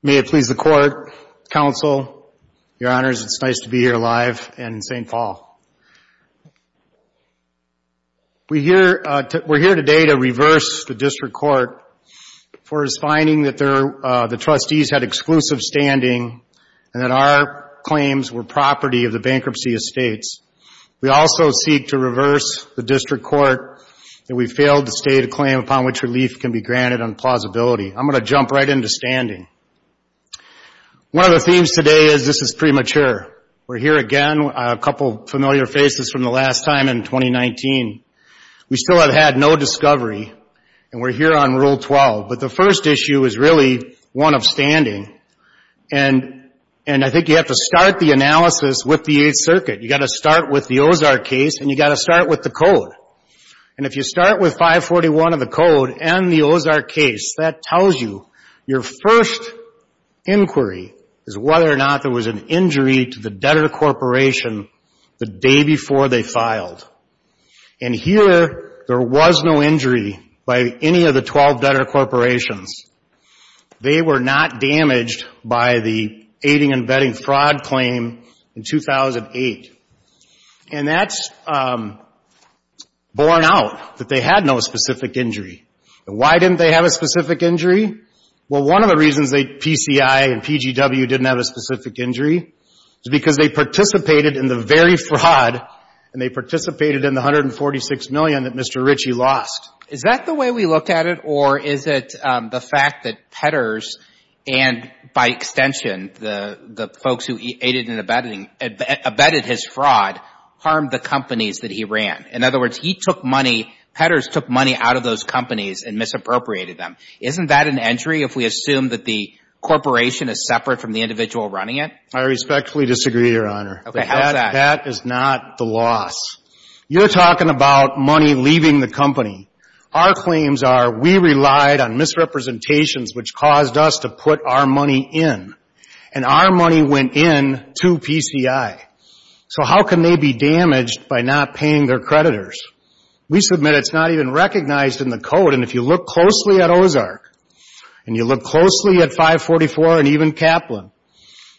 May it please the Court, Counsel, Your Honors, it's nice to be here live in St. Paul. We're here today to reverse the District Court for its finding that the Trustees had exclusive standing and that our claims were property of the bankruptcy estates. We also seek to reverse the District Court that we failed to state a claim upon which relief can be granted on plausibility. I'm going to jump right into standing. One of the themes today is this is premature. We're here again, a couple familiar faces from the last time in 2019. We still have had no discovery and we're here on Rule 12. But the first issue is really one of standing. And I think you have to start the analysis with the Eighth Circuit. You've got to start with the Ozark case and you've got to start with the code. And if you start with 541 of the code and the Ozark case, that tells you your first inquiry is whether or not there was an injury to the debtor corporation the day before they filed. And here, there was no injury by any of the 12 debtor corporations. They were not damaged by the aiding and abetting fraud claim in 2008. And that's borne out that they had no specific injury. Why didn't they have a specific injury? Well, one of the reasons that PCI and PGW didn't have a specific injury is because they participated in the very fraud and they participated in the $146 million that Mr. Ritchie lost. Is that the way we looked at it or is it the fact that Petters and, by extension, the folks who aided and abetted his fraud harmed the companies that he ran? In other words, he took money, Petters took money out of those companies and misappropriated them. Isn't that an injury if we assume that the corporation is separate from the individual running it? I respectfully disagree, Your Honor. Okay. How's that? That is not the loss. You're talking about money leaving the company. Our claims are we relied on misrepresentations which caused us to put our money in. And our money went in to PCI. So how can they be damaged by not paying their creditors? We submit it's not even recognized in the code. And if you look closely at Ozark and you look closely at 544 and even Kaplan,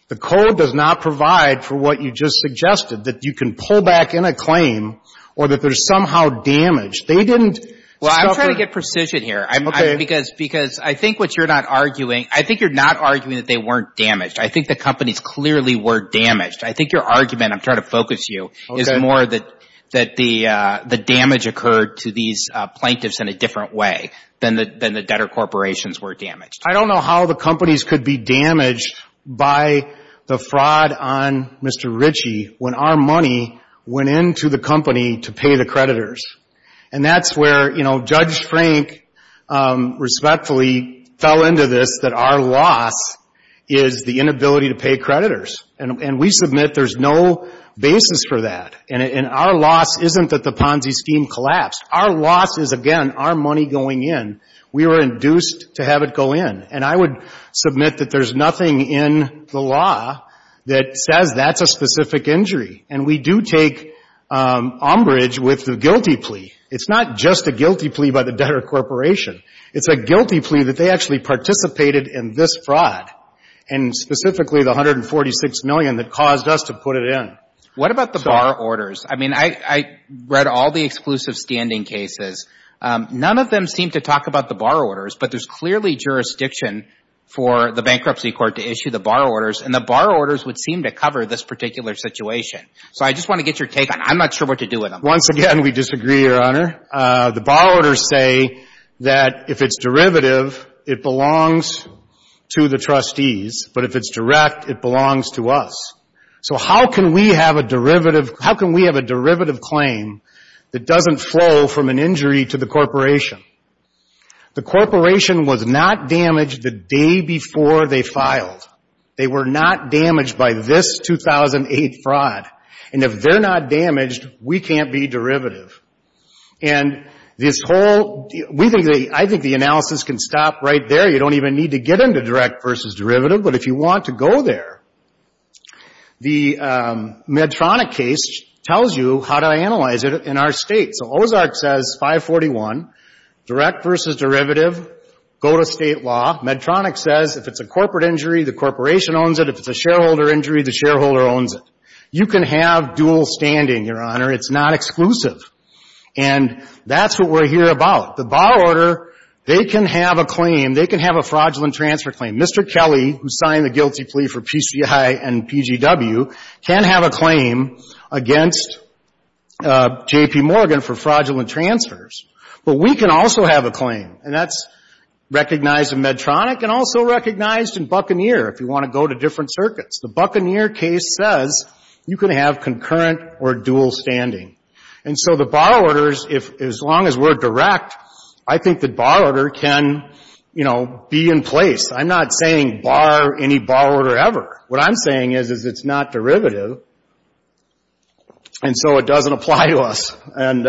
the code does not provide for what you just suggested, that you can pull back in a claim or that they're somehow damaged. They didn't discover... Well, I'm trying to get precision here because I think what you're not arguing, I think you're not arguing that they weren't damaged. I think the companies clearly were damaged. I think your argument, I'm trying to focus you, is more that the damage occurred to these plaintiffs in a different way than the debtor corporations were damaged. I don't know how the companies could be damaged by the fraud on Mr. Ritchie when our money went in to the company to pay the creditors. And that's where, you know, Judge Frank respectfully fell into this that our loss is the inability to pay creditors. And we submit there's no basis for that. And our loss isn't that the Ponzi scheme collapsed. Our loss is, again, our money going in. We were induced to have it go in. And I would submit that there's nothing in the law that says that's a specific injury. And we do take umbrage with the guilty plea. It's not just a guilty plea by the debtor corporation. It's a guilty plea that they actually participated in this fraud, and specifically the 146 million that caused us to put it in. What about the bar orders? I mean, I read all the exclusive standing cases. None of them seem to talk about the bar orders. But there's clearly jurisdiction for the bankruptcy court to issue the bar orders. And the bar orders would seem to cover this particular situation. So I just want to get your take on it. I'm not sure what to do with them. Once again, we disagree, Your Honor. The bar orders say that if it's derivative, it belongs to the trustees. But if it's direct, it belongs to us. So how can we have a derivative claim that doesn't flow from an injury to the corporation? The corporation was not damaged the day before they filed. They were not damaged by this 2008 fraud. And if they're not damaged, we can't be derivative. And this whole, we think, I think the analysis can stop right there. You don't even need to get into direct versus derivative. But if you want to go there, the Medtronic case tells you how to analyze it in our state. So Ozark says 541, direct versus derivative, go to state law. Medtronic says if it's a corporate injury, the corporation owns it. If it's a shareholder injury, the shareholder owns it. You can have dual standing, Your Honor. It's not exclusive. And that's what we're here about. The bar order, they can have a claim. They can have a fraudulent transfer claim. Mr. Kelly, who signed the guilty plea for PCI and PGW, can have a claim against J.P. Morgan for fraudulent transfers. But we can also have a claim. And that's recognized in Medtronic and also recognized in Buccaneer, if you want to go to different circuits. The Buccaneer case says you can have concurrent or dual standing. And so the bar orders, if, as long as we're direct, I think the bar order can, you know, be in place. I'm not saying bar any bar order ever. What I'm saying is it's not derivative. And so it doesn't apply to us. And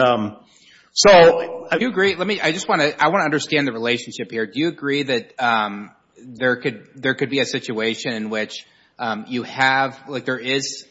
so I do agree. Let me, I just want to, I want to understand the relationship here. Do you agree that there could be a situation in which you have, like there is,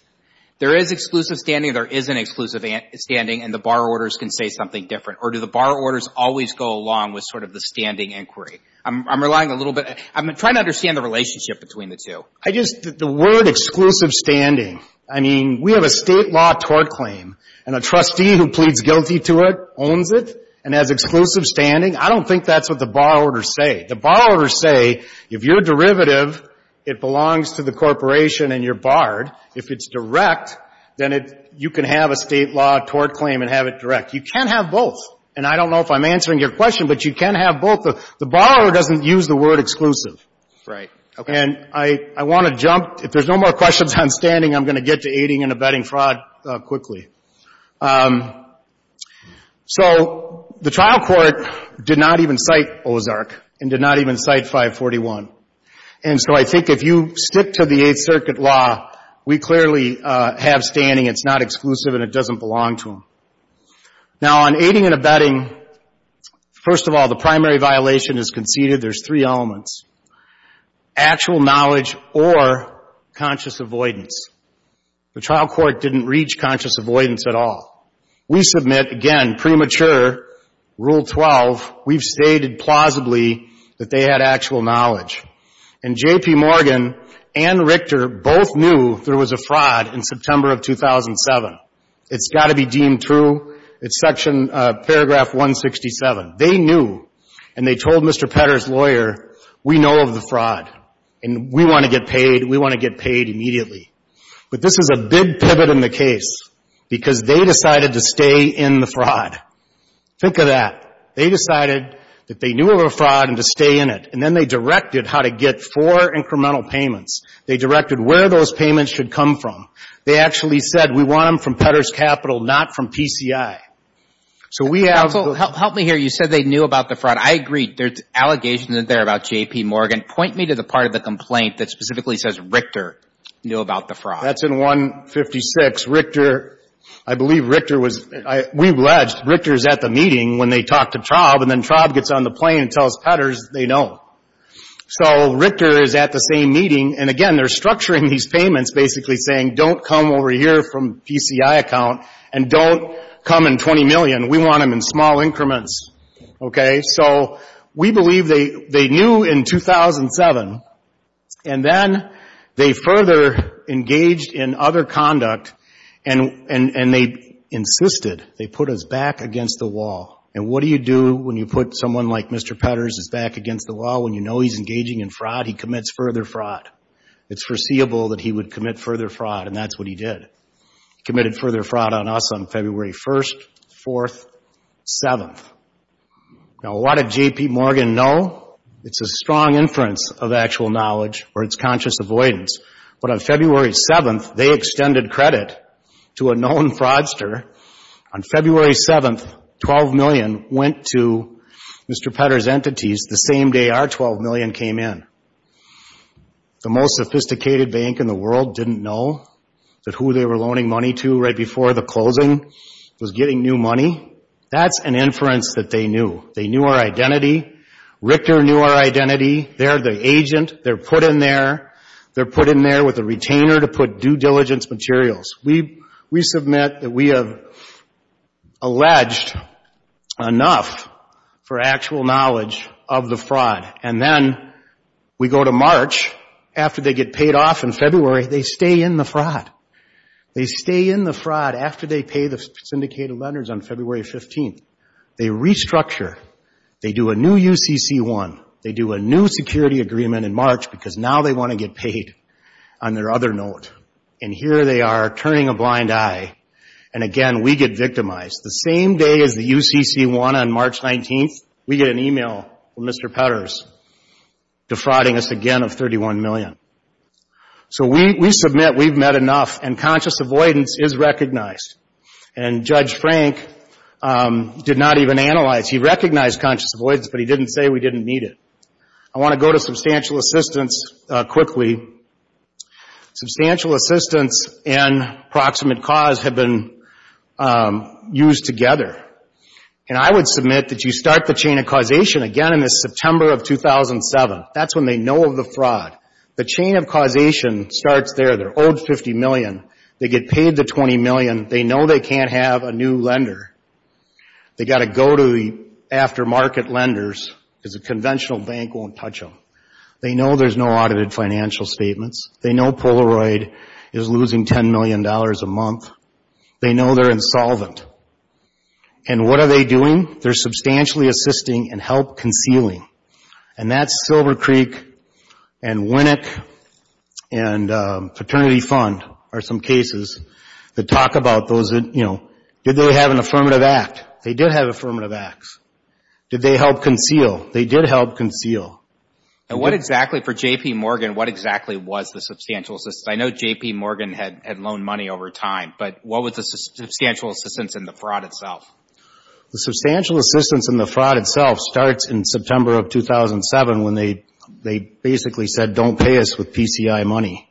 there is exclusive standing or there isn't exclusive standing and the bar orders can say something different? Or do the bar orders always go along with sort of the standing inquiry? I'm relying a little bit. I'm trying to understand the relationship between the two. I just, the word exclusive standing, I mean, we have a state law tort claim. And a trustee who pleads guilty to it owns it and has exclusive standing. I don't think that's what the bar orders say. The bar orders say, if you're a derivative, it belongs to the corporation and you're barred. If it's direct, then it, you can have a state law tort claim and have it direct. You can't have both. And I don't know if I'm answering your question, but you can have both. The bar doesn't use the word exclusive. Right. Okay. And I, I want to jump, if there's no more questions on standing, I'm going to get to aiding and abetting fraud quickly. So the trial court did not even cite Ozark and did not even cite 541. And so I think if you stick to the Eighth Circuit law, we clearly have standing. It's not exclusive and it doesn't belong to them. Now on aiding and abetting, first of all, the primary violation is conceded. There's three elements. Actual knowledge or conscious avoidance. The trial court didn't reach conscious avoidance at all. We submit, again, premature Rule 12. We've stated plausibly that they had actual knowledge. And J.P. Morgan and Richter both knew there was a fraud in September of 2007. It's got to be deemed true. It's Section, Paragraph 167. They knew and they told Mr. Petter's lawyer, we know of the fraud and we want to get paid. We want to get paid immediately. But this is a big pivot in the case because they decided to stay in the fraud. Think of that. They decided that they knew of a fraud and to stay in it. And then they directed how to get four incremental payments. They directed where those payments should come from. They actually said, we want them from Petter's Capital, not from PCI. So we have the ‑‑ Counsel, help me here. You said they knew about the fraud. I agree. There's allegations in there about J.P. Morgan. Point me to the part of the complaint that specifically says Richter knew about the fraud. That's in 156. Richter, I believe Richter was ‑‑ we alleged Richter's at the meeting when they talked to Traub and then Traub gets on the plane and tells Petter's they know. So Richter is at the same meeting. And again, they're structuring these payments basically saying don't come over here from PCI account and don't come in 20 million. We want them in small increments. Okay? So we believe they knew in 2007. And then they further engaged in other conduct and they insisted, they put us back against the wall. And what do you put someone like Mr. Petter's back against the wall when you know he's engaging in fraud? He commits further fraud. It's foreseeable that he would commit further fraud and that's what he did. Committed further fraud on us on February 1st, 4th, 7th. Now, what did J.P. Morgan know? It's a strong inference of actual knowledge or it's conscious avoidance. But on February 7th, they extended credit to a known fraudster. On February 7th, 12 million went to Mr. Petter's entities the same day our 12 million came in. The most sophisticated bank in the world didn't know that who they were loaning money to right before the closing was getting new money. That's an inference that they knew. They knew our identity. Richter knew our identity. They're the agent. They're put in there. They're put in there with a retainer to put due diligence materials. We submit that we have alleged enough for actual knowledge of the fraud. And then we go to March. After they get paid off in February, they stay in the fraud. They stay in the fraud after they pay the syndicated lenders on February 15th. They restructure. They do a new UCC1. They do a new security agreement in March because now they want to get paid on their other note. And here they are turning a blind eye. And again, we get victimized. The same day as the UCC1 on March 19th, we get an email from Mr. Petter's defrauding us again of 31 million. So we submit we've met enough and conscious avoidance is recognized. And Judge Frank did not even analyze. He recognized conscious avoidance, but he didn't say we didn't need it. I want to go to substantial assistance quickly. Substantial assistance and proximate cause have been used together. And I would submit that you start the chain of causation again in September of 2007. That's when they know of the fraud. The chain of causation starts there. They're owed 50 million. They get paid the 20 million. They know they can't have a new lender. They've got to go to the aftermarket lenders because a conventional bank won't touch them. They know there's no audited financial statements. They know Polaroid is losing 10 million dollars a month. They know they're insolvent. And what are they doing? They're substantially assisting and help concealing. And that's Silver Creek and Winnick and Fraternity Fund are some cases that talk about those that, you know, did they have an affirmative act? They did have affirmative acts. Did they help conceal? They did help conceal. And what exactly for J.P. Morgan, what exactly was the substantial assistance? I know J.P. Morgan had loaned money over time, but what was the substantial assistance in the fraud itself? The substantial assistance in the fraud itself starts in September of 2007 when they basically said don't pay us with PCI money.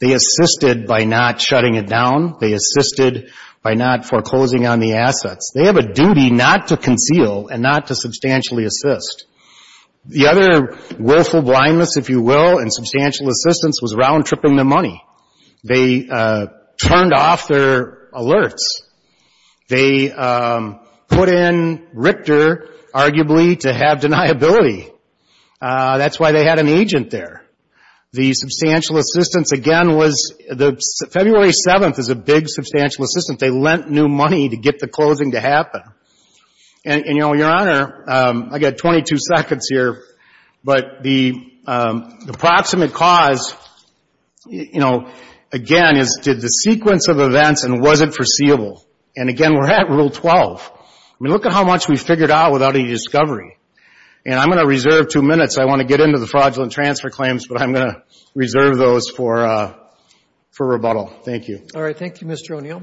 They assisted by not shutting it down. They assisted by not foreclosing on the assets. They have a duty not to conceal and not to substantially assist. The other willful blindness, if you will, in substantial assistance was round tripping the money. They turned off their alerts. They put in Richter arguably to have deniability. That's why they had an agent there. The substantial assistance again was the February 7th is a big substantial assistance. They lent new money to get the closing to happen. And, you know, Your Honor, I got 22 seconds here, but the approximate cause, you know, again is did the sequence of events and was it foreseeable? And again, we're at Rule 12. I mean, look at how much we figured out without any discovery. And I'm going to reserve two minutes. I want to get into the fraudulent transfer claims, but I'm going to reserve those for rebuttal. Thank you. All right. Thank you, Mr. O'Neill.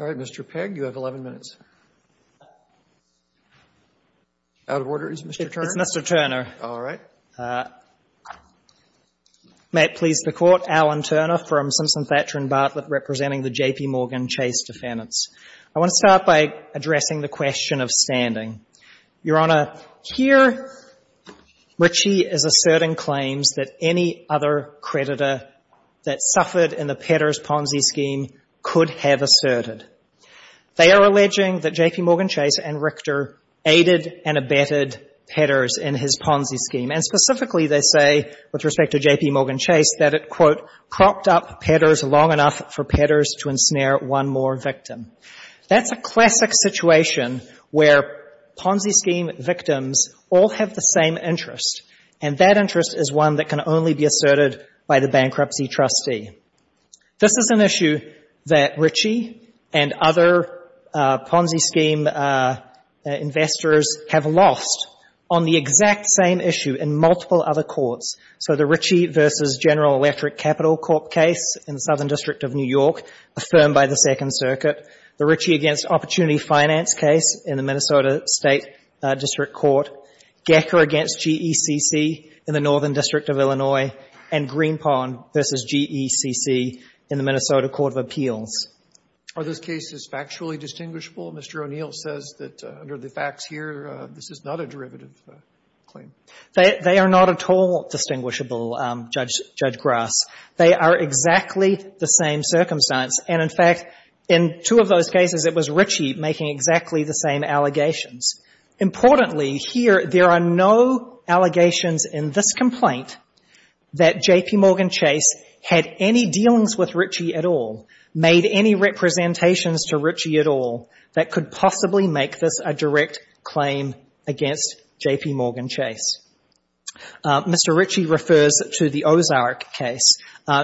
All right. Mr. Pegg, you have 11 minutes. Out of order. Is it Mr. Turner? It's Mr. Turner. All right. May it please the Court. Alan Turner from Simpson Thatcher & Bartlett representing the J.P. Morgan Chase defendants. I want to start by addressing the question of standing. Your Honor, here Ritchie is asserting claims that any other creditor that suffered in the Petters Ponzi scheme could have asserted. They are alleging that J.P. Morgan Chase and Richter aided and abetted Petters in his Ponzi scheme. And specifically, they say, with respect to J.P. Morgan Chase, that it, quote, cropped up Petters long enough for Petters to ensnare one more victim. That's a classic situation where Ponzi scheme victims all have the same interest. And that interest is one that can only be asserted by the bankruptcy trustee. This is an issue that Ritchie and other Ponzi scheme investors have lost on the exact same issue in multiple other courts. So the Ritchie v. General Electric Capital Court case in the Southern District of New York, affirmed by the Second Circuit. The Ritchie v. Opportunity in the Northern District of Illinois. And Greenpond v. GECC in the Minnesota Court of Appeals. Are those cases factually distinguishable? Mr. O'Neill says that under the facts here, this is not a derivative claim. They are not at all distinguishable, Judge Grass. They are exactly the same circumstance. And in fact, in two of those cases, it was Ritchie making exactly the same allegations. Importantly, here, there are no allegations in this complaint that J.P. Morgan Chase had any dealings with Ritchie at all, made any representations to Ritchie at all that could possibly make this a direct claim against J.P. Morgan Chase. Mr. Ritchie refers to the Ozark case.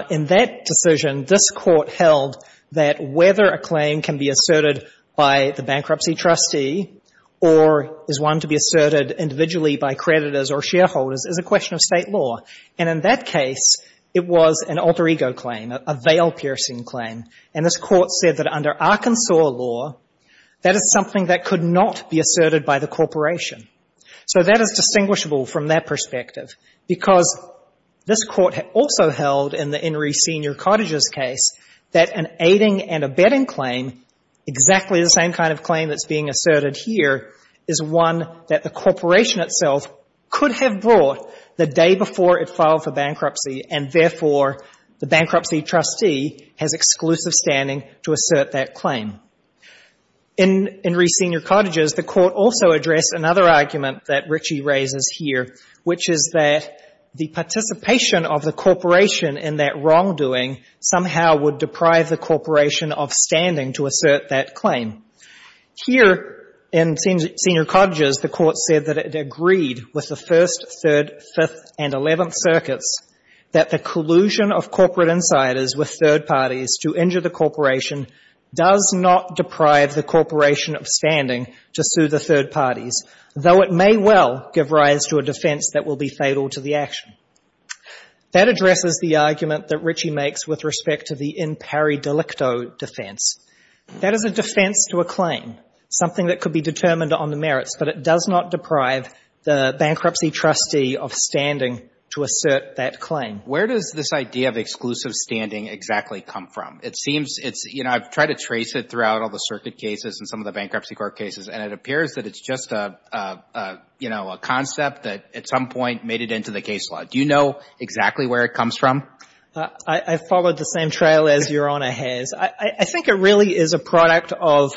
In that decision, this Court held that whether a claim can be asserted by the bankruptcy trustee or is one to be asserted individually by creditors or shareholders is a question of State law. And in that case, it was an alter ego claim, a veil-piercing claim. And this Court said that under Arkansas law, that is something that could not be asserted by the corporation. So that is distinguishable from that perspective, because this Court also held in the same kind of claim that's being asserted here is one that the corporation itself could have brought the day before it filed for bankruptcy, and therefore, the bankruptcy trustee has exclusive standing to assert that claim. In Reese Senior Cottages, the Court also addressed another argument that Ritchie raises here, which is that the participation of the corporation in that wrongdoing somehow would deprive the corporation of standing to assert that claim. Here in Senior Cottages, the Court said that it agreed with the First, Third, Fifth, and Eleventh Circuits that the collusion of corporate insiders with third parties to injure the corporation does not deprive the corporation of standing to sue the third parties, though it may well give rise to a defense that will be fatal to the action. That addresses the argument that Ritchie makes with respect to the in pari delicto defense. That is a defense to a claim, something that could be determined on the merits, but it does not deprive the bankruptcy trustee of standing to assert that claim. Where does this idea of exclusive standing exactly come from? It seems it's, you know, I've tried to trace it throughout all the circuit cases and some of the Bankruptcy Trustees, but it's a, you know, a concept that at some point made it into the case law. Do you know exactly where it comes from? I've followed the same trail as Your Honor has. I think it really is a product of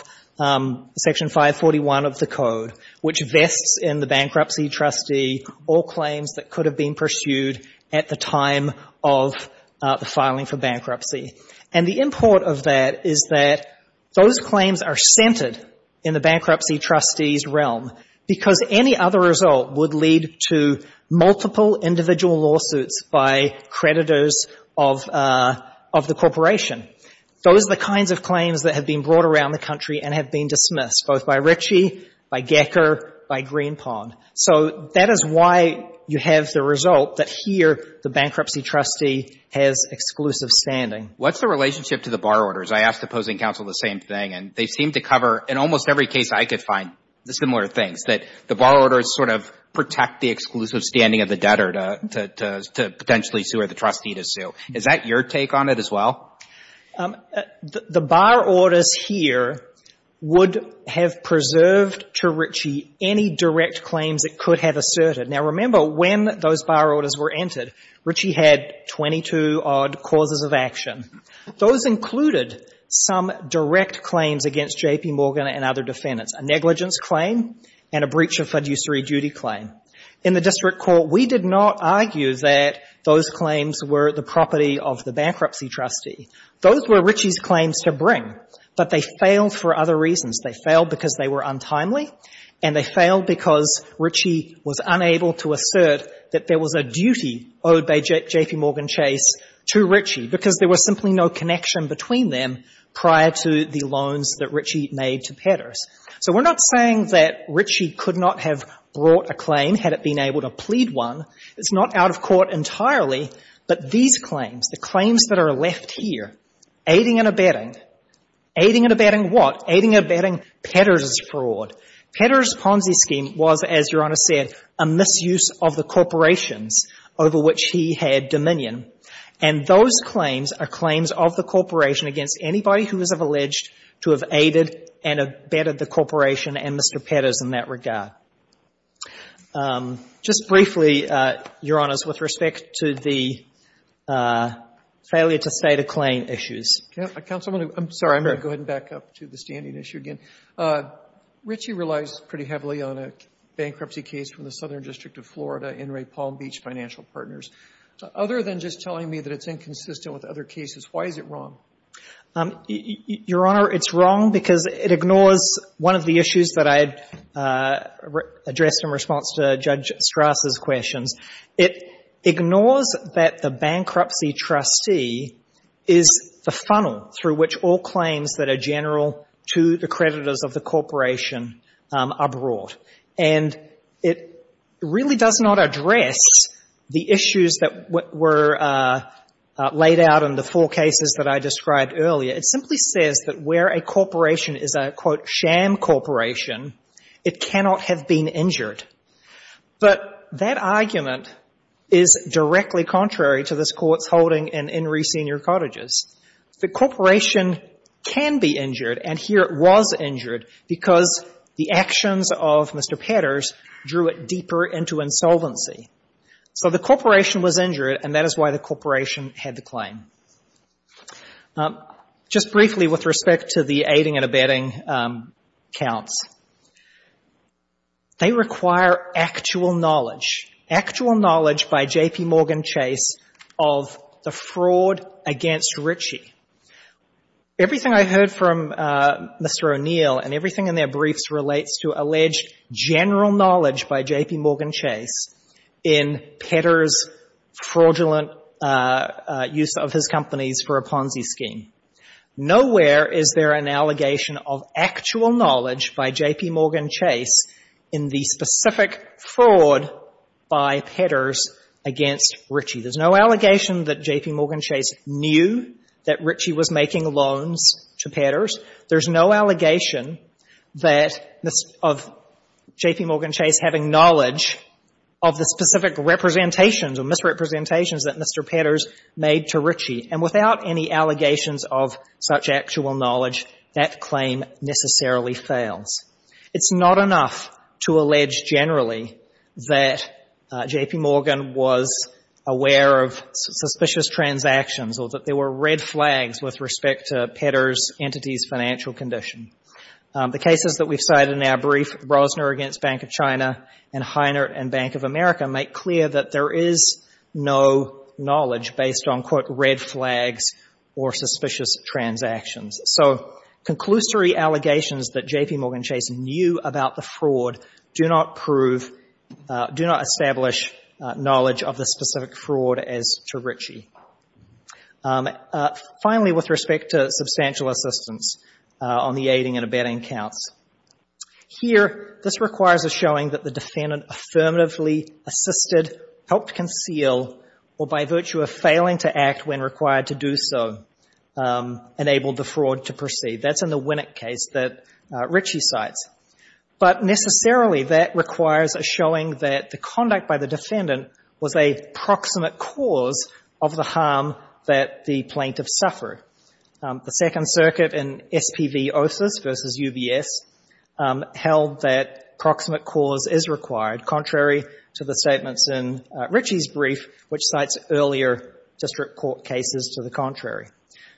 Section 541 of the Code, which vests in the bankruptcy trustee all claims that could have been pursued at the time of the filing for bankruptcy. And the import of that is that those claims are centered in the bankruptcy trustee's realm. Because any other result would lead to multiple individual lawsuits by creditors of the corporation. Those are the kinds of claims that have been brought around the country and have been dismissed, both by Ritchie, by Gecker, by Greenpond. So that is why you have the result that here the bankruptcy trustee has exclusive standing. What's the relationship to the bar orders? I asked opposing counsel the same thing, and they seem to cover, in almost every case I could find, similar things, that the bar orders sort of protect the exclusive standing of the debtor to potentially sue or the trustee to sue. Is that your take on it as well? The bar orders here would have preserved to Ritchie any direct claims it could have asserted. Now, remember, when those bar orders were entered, Ritchie had 22-odd clauses of action. Those included some direct claims against J.P. Morgan and other defendants, a negligence claim and a breach of fiduciary duty claim. In the district court, we did not argue that those claims were the property of the bankruptcy trustee. Those were Ritchie's claims to bring, but they failed for other reasons. They failed because they were untimely, and they failed because Ritchie was unable to assert that there was a duty owed by J.P. Morgan Chase to Ritchie, because there was simply no connection between them prior to the loans that Ritchie made to Petters. So we're not saying that Ritchie could not have brought a claim had it been able to plead one. It's not out of court entirely, but these claims, the claims that are left here, aiding and abetting, aiding and abetting what? Aiding and abetting Petters' fraud. Petters' Ponzi scheme was, as Your Honor said, a misuse of the corporations over which he had dominion. And those claims are claims of the corporation against anybody who is alleged to have aided and abetted the corporation and Mr. Petters in that regard. Just briefly, Your Honors, with respect to the failure to state a claim issues. I'm sorry. I'm going to go ahead and back up to the standing issue again. Ritchie relies pretty heavily on a bankruptcy case from the Southern District of Florida, Enright Palm Beach Financial Partners. Other than just telling me that it's inconsistent with other cases, why is it wrong? Your Honor, it's wrong because it ignores one of the issues that I addressed in response to Judge Strass' questions. It ignores that the bankruptcy trustee is the funnel through which all claims that are general to the creditors of the corporation are brought. And it really does not address the issues that were laid out in the four cases that I described earlier. It simply says that where a corporation is a, quote, sham corporation, it cannot have been injured. But that argument is directly contrary to this Court's holding in Enright Senior Cottages. The corporation can be injured, and here it was injured, because the actions of Mr. Petters drew it deeper into insolvency. So the corporation was injured, and that is why the corporation had the claim. Just briefly, with respect to the aiding and abetting counts, they require actual knowledge, actual knowledge by J.P. Morgan Chase of the fraud against Ritchie. Everything I heard from Mr. O'Neill and everything in their briefs relates to alleged general knowledge by J.P. Morgan Chase in Petters' fraudulent use of his companies for a Ponzi scheme. Nowhere is there an allegation of actual knowledge by J.P. Morgan Chase in the specific fraud by Petters against Ritchie. There's no allegation that J.P. Morgan Chase knew that Ritchie was making loans to Petters. There's no allegation that of J.P. Morgan Chase having knowledge of the specific representations or misrepresentations that Mr. Petters made to Ritchie. And without any allegations of such actual knowledge, that claim necessarily fails. It's not enough to allege generally that J.P. Morgan was aware of suspicious transactions or that there were red flags with respect to Petters' entity's financial condition. The cases that we've cited in our brief, Brosner against Bank of China and Heinert and Bank of America, make clear that there is no knowledge based on, quote, red flags or suspicious transactions. So conclusory allegations that J.P. Morgan Chase knew about the fraud do not prove, do not establish knowledge of the specific fraud as to Ritchie. Finally, with respect to substantial assistance on the aiding and abetting counts, here this requires a showing that the defendant affirmatively assisted, helped conceal, or by virtue of failing to act when required to do so, enabled the plaintiff to suffer. The Second Circuit in SPV Osses v. UBS held that proximate cause is required, contrary to the statements in Ritchie's brief, which cites earlier district court cases to the contrary.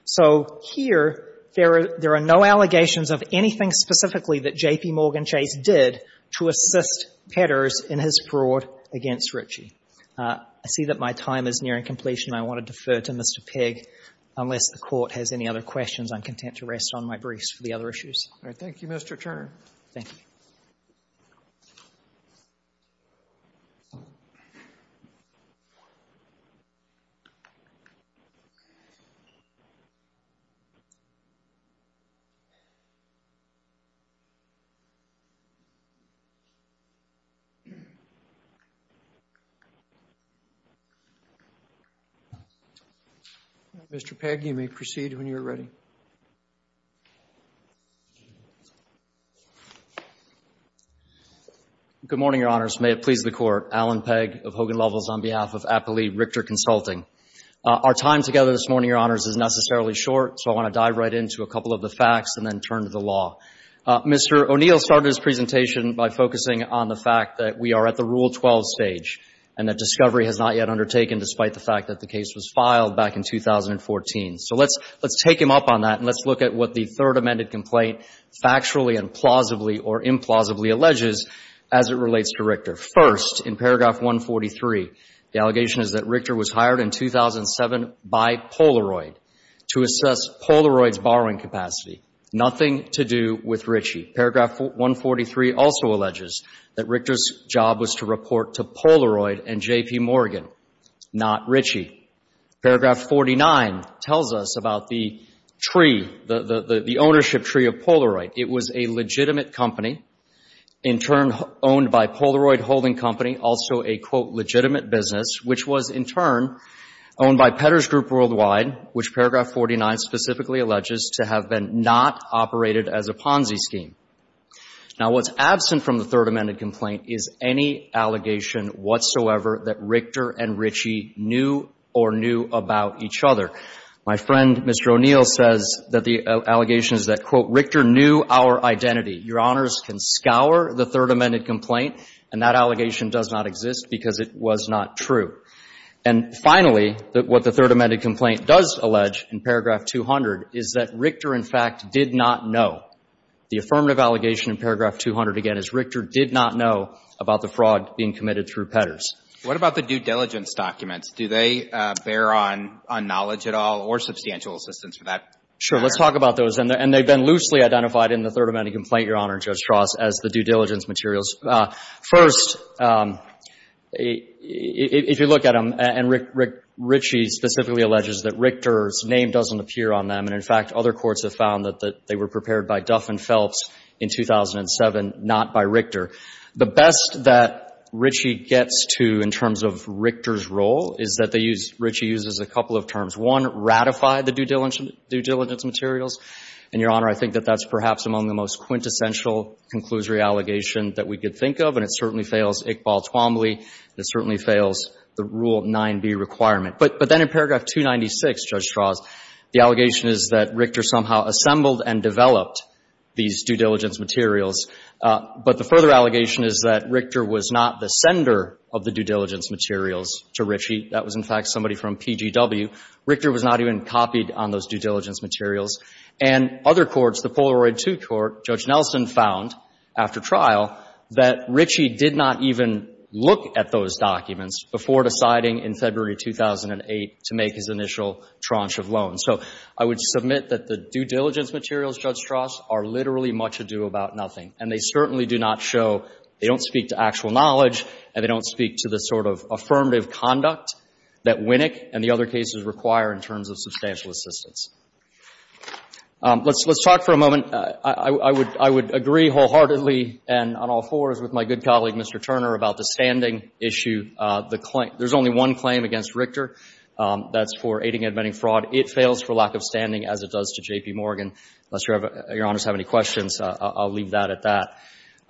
So here there are no allegations of anything specifically that J.P. Morgan Chase did to assist Petters in his fraud against Ritchie. I see that my time is nearing completion, and I want to defer to Mr. Pegg. Unless the Court has any other questions, I'm content to rest on my briefs for the other issues. All right. Thank you, Mr. Turner. Thank you. Mr. Pegg, you may proceed when you're ready. Good morning, Your Honors. May it please the Court. Alan Pegg of Hogan Lovels on behalf of Appellee Richter Consulting. Our time together this morning, Your Honors, is necessarily short, so I want to dive right into a couple of the facts and then turn to the law. Mr. O'Neill started his presentation by focusing on the fact that we are at the Rule 12 stage and that discovery has not yet undertaken, despite the fact that the case was filed back in 2014. So let's take him up on that and let's look at what the Third Amended Complaint factually and plausibly or implausibly alleges as it relates to Richter. First, in paragraph 143, the allegation is that Richter was hired in 2007 by Polaroid to assess Polaroid's borrowing capacity, nothing to do with Ritchie. Paragraph 143 also alleges that Richter's job was to report to Polaroid and J.P. Morgan, not Ritchie. Paragraph 49 tells us about the tree, the ownership tree of Polaroid. It was a legitimate company, in turn owned by Polaroid Holding Company, also a, quote, legitimate business, which was, in turn, owned by Petters Group Worldwide, which paragraph 49 specifically alleges to have been not operated as a Ponzi scheme. Now, what's absent from the Third Amended Complaint is any allegation whatsoever that Richter and Ritchie knew or knew about each other. My friend, Mr. O'Neill, says that the allegation is that, quote, Richter knew our identity. Your Honors can scour the Third Amended Complaint, and that allegation does not exist because it was not true. And finally, what the Third Amended Complaint does allege in paragraph 200 is that Richter, in fact, did not know. The affirmative allegation in paragraph 200, again, is Richter did not know about the fraud being committed through Petters. What about the due diligence documents? Do they bear on knowledge at all or substantial assistance for that matter? Sure. Let's talk about those. And they've been loosely identified in the Third Amended Complaint, Your Honor, Judge Strauss, as the due diligence materials. First, if you look at them, and Ritchie specifically alleges that Richter's name doesn't appear on them, and, in fact, other courts have found that they were prepared by Duff and Phelps in 2007, not by Richter. The best that Ritchie gets to in terms of Richter's role is that they use — Ritchie uses a couple of terms. One, ratify the due diligence materials. And, Your Honor, I think that that's perhaps among the most quintessential conclusory allegation that we could think of. And it certainly fails Iqbal Twombly. It certainly fails the Rule 9b requirement. But then in paragraph 296, Judge Strauss, the allegation is that Richter somehow assembled and developed these due diligence materials. But the further allegation is that Richter was not the sender of the due diligence materials to Ritchie. That was, in fact, somebody from PGW. Richter was not even copied on those due diligence materials. And other courts, the Polaroid II Court, Judge Nelson found, after trial, that Ritchie did not even look at those documents before deciding in February 2008 to make his initial tranche of loans. So I would submit that the due diligence materials, Judge Strauss, are literally much ado about nothing. And they certainly do not show — they don't speak to actual knowledge, and they don't speak to the sort of affirmative conduct that Winnick and the other cases require in terms of substantial assistance. Let's talk for a moment — I would agree wholeheartedly and on all fours with my good colleague, Mr. Turner, about the standing issue, the claim — there's only one claim against Richter. That's for aiding and abetting fraud. It fails for lack of standing, as it does to J.P. Morgan. Unless Your Honors have any questions, I'll leave that at that.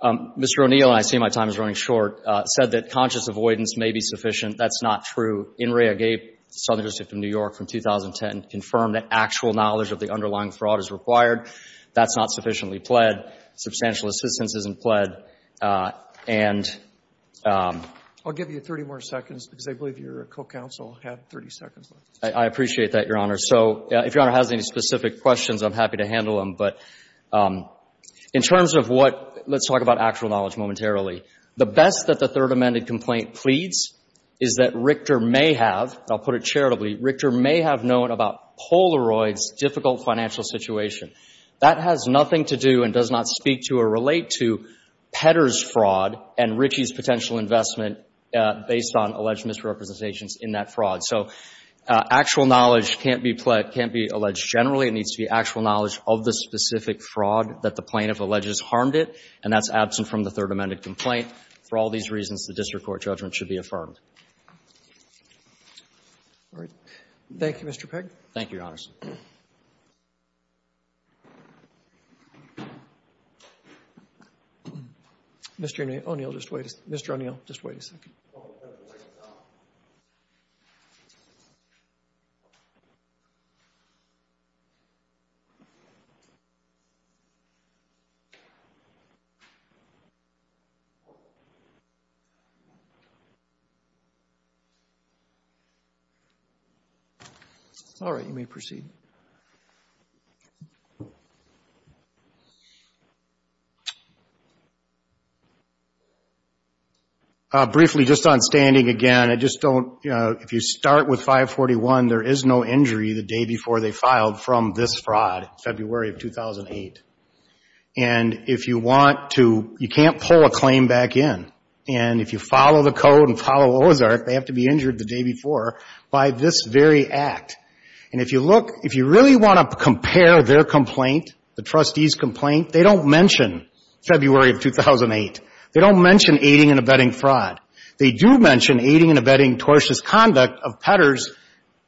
Mr. O'Neill — and I see my time is running short — said that conscious avoidance may be sufficient. That's not true. In Rea-Gabe, Southern District of New York, from 2010, confirmed that actual knowledge of the underlying fraud is required. That's not sufficiently pled. Substantial assistance isn't pled. And — I'll give you 30 more seconds, because I believe your co-counsel had 30 seconds left. I appreciate that, Your Honor. So if Your Honor has any specific questions, I'm happy to handle them. But in terms of what — let's talk about actual knowledge momentarily. The best that the Third Amendment complaint pleads is that Richter may have — and I'll put it charitably — Richter may have known about Polaroid's difficult financial situation. That has nothing to do and does not speak to or relate to Pedder's fraud and Ritchie's potential investment based on alleged misrepresentations in that fraud. So actual knowledge can't be pled — can't be alleged generally. It needs to be actual knowledge of the specific fraud that the plaintiff alleges harmed it. And that's absent from the Third Amendment complaint. For all these reasons, the district court judgment should be affirmed. Thank you, Your Honors. Mr. O'Neill, just wait. Mr. O'Neill, just wait a second. All right. You may proceed. Briefly, just on standing again, I just don't — you know, if you start with 541, there is no injury the day before they filed from this fraud, February of 2008. And if you want to — you can't pull a claim back in. And if you follow the code and follow Ozark, they have to be injured the day before by this very act. And if you look — if you really want to compare their complaint, the trustee's complaint, they don't mention February of 2008. They don't mention aiding and abetting fraud. They do mention aiding and abetting tortious conduct of Pedder's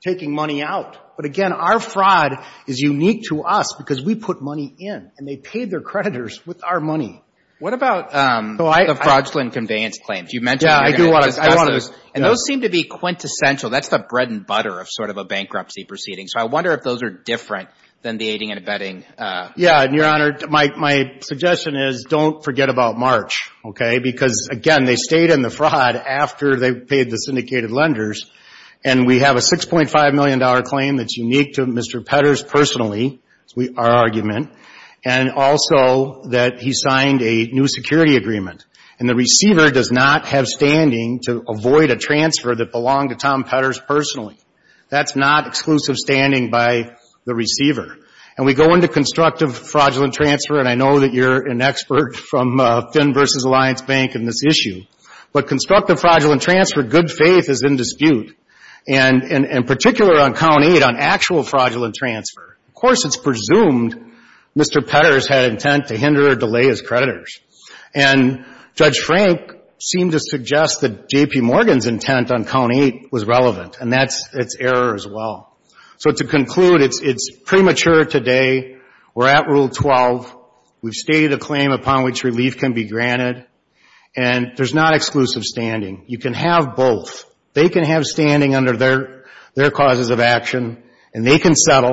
taking money out. But again, our fraud is unique to us because we put money in. And they paid their creditors with our money. What about the fraudulent conveyance claims? You mentioned — Yeah, I do want to — I want to — And those seem to be quintessential. That's the bread and butter of sort of a bankruptcy proceeding. So I wonder if those are different than the aiding and abetting. Yeah. And, Your Honor, my suggestion is don't forget about March, okay, because again, they stayed in the fraud after they paid the syndicated lenders. And we have a $6.5 million claim that's unique to Mr. Pedder's personally, our argument, and also that he signed a new security agreement. And the receiver does not have standing to avoid a transfer that belonged to Tom Pedder's personally. That's not exclusive standing by the receiver. And we go into constructive fraudulent transfer, and I know that you're an expert from Finn v. Alliance Bank in this issue, but constructive fraudulent transfer, good faith is in dispute, and in particular on Count 8, on actual fraudulent transfer. Of course, it's presumed Mr. Pedder's had intent to hinder or delay his creditors. And Judge Frank seemed to suggest that J.P. Morgan's intent on Count 8 was relevant, and that's its error as well. So to conclude, it's premature today. We're at Rule 12. We've stated a claim upon which relief can be granted. And there's not exclusive standing. You can have both. They can have standing under their causes of action, and they can have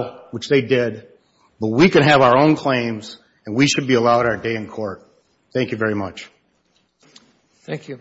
our own claims, and we should be allowed our day in court. Thank you very much. Thank you.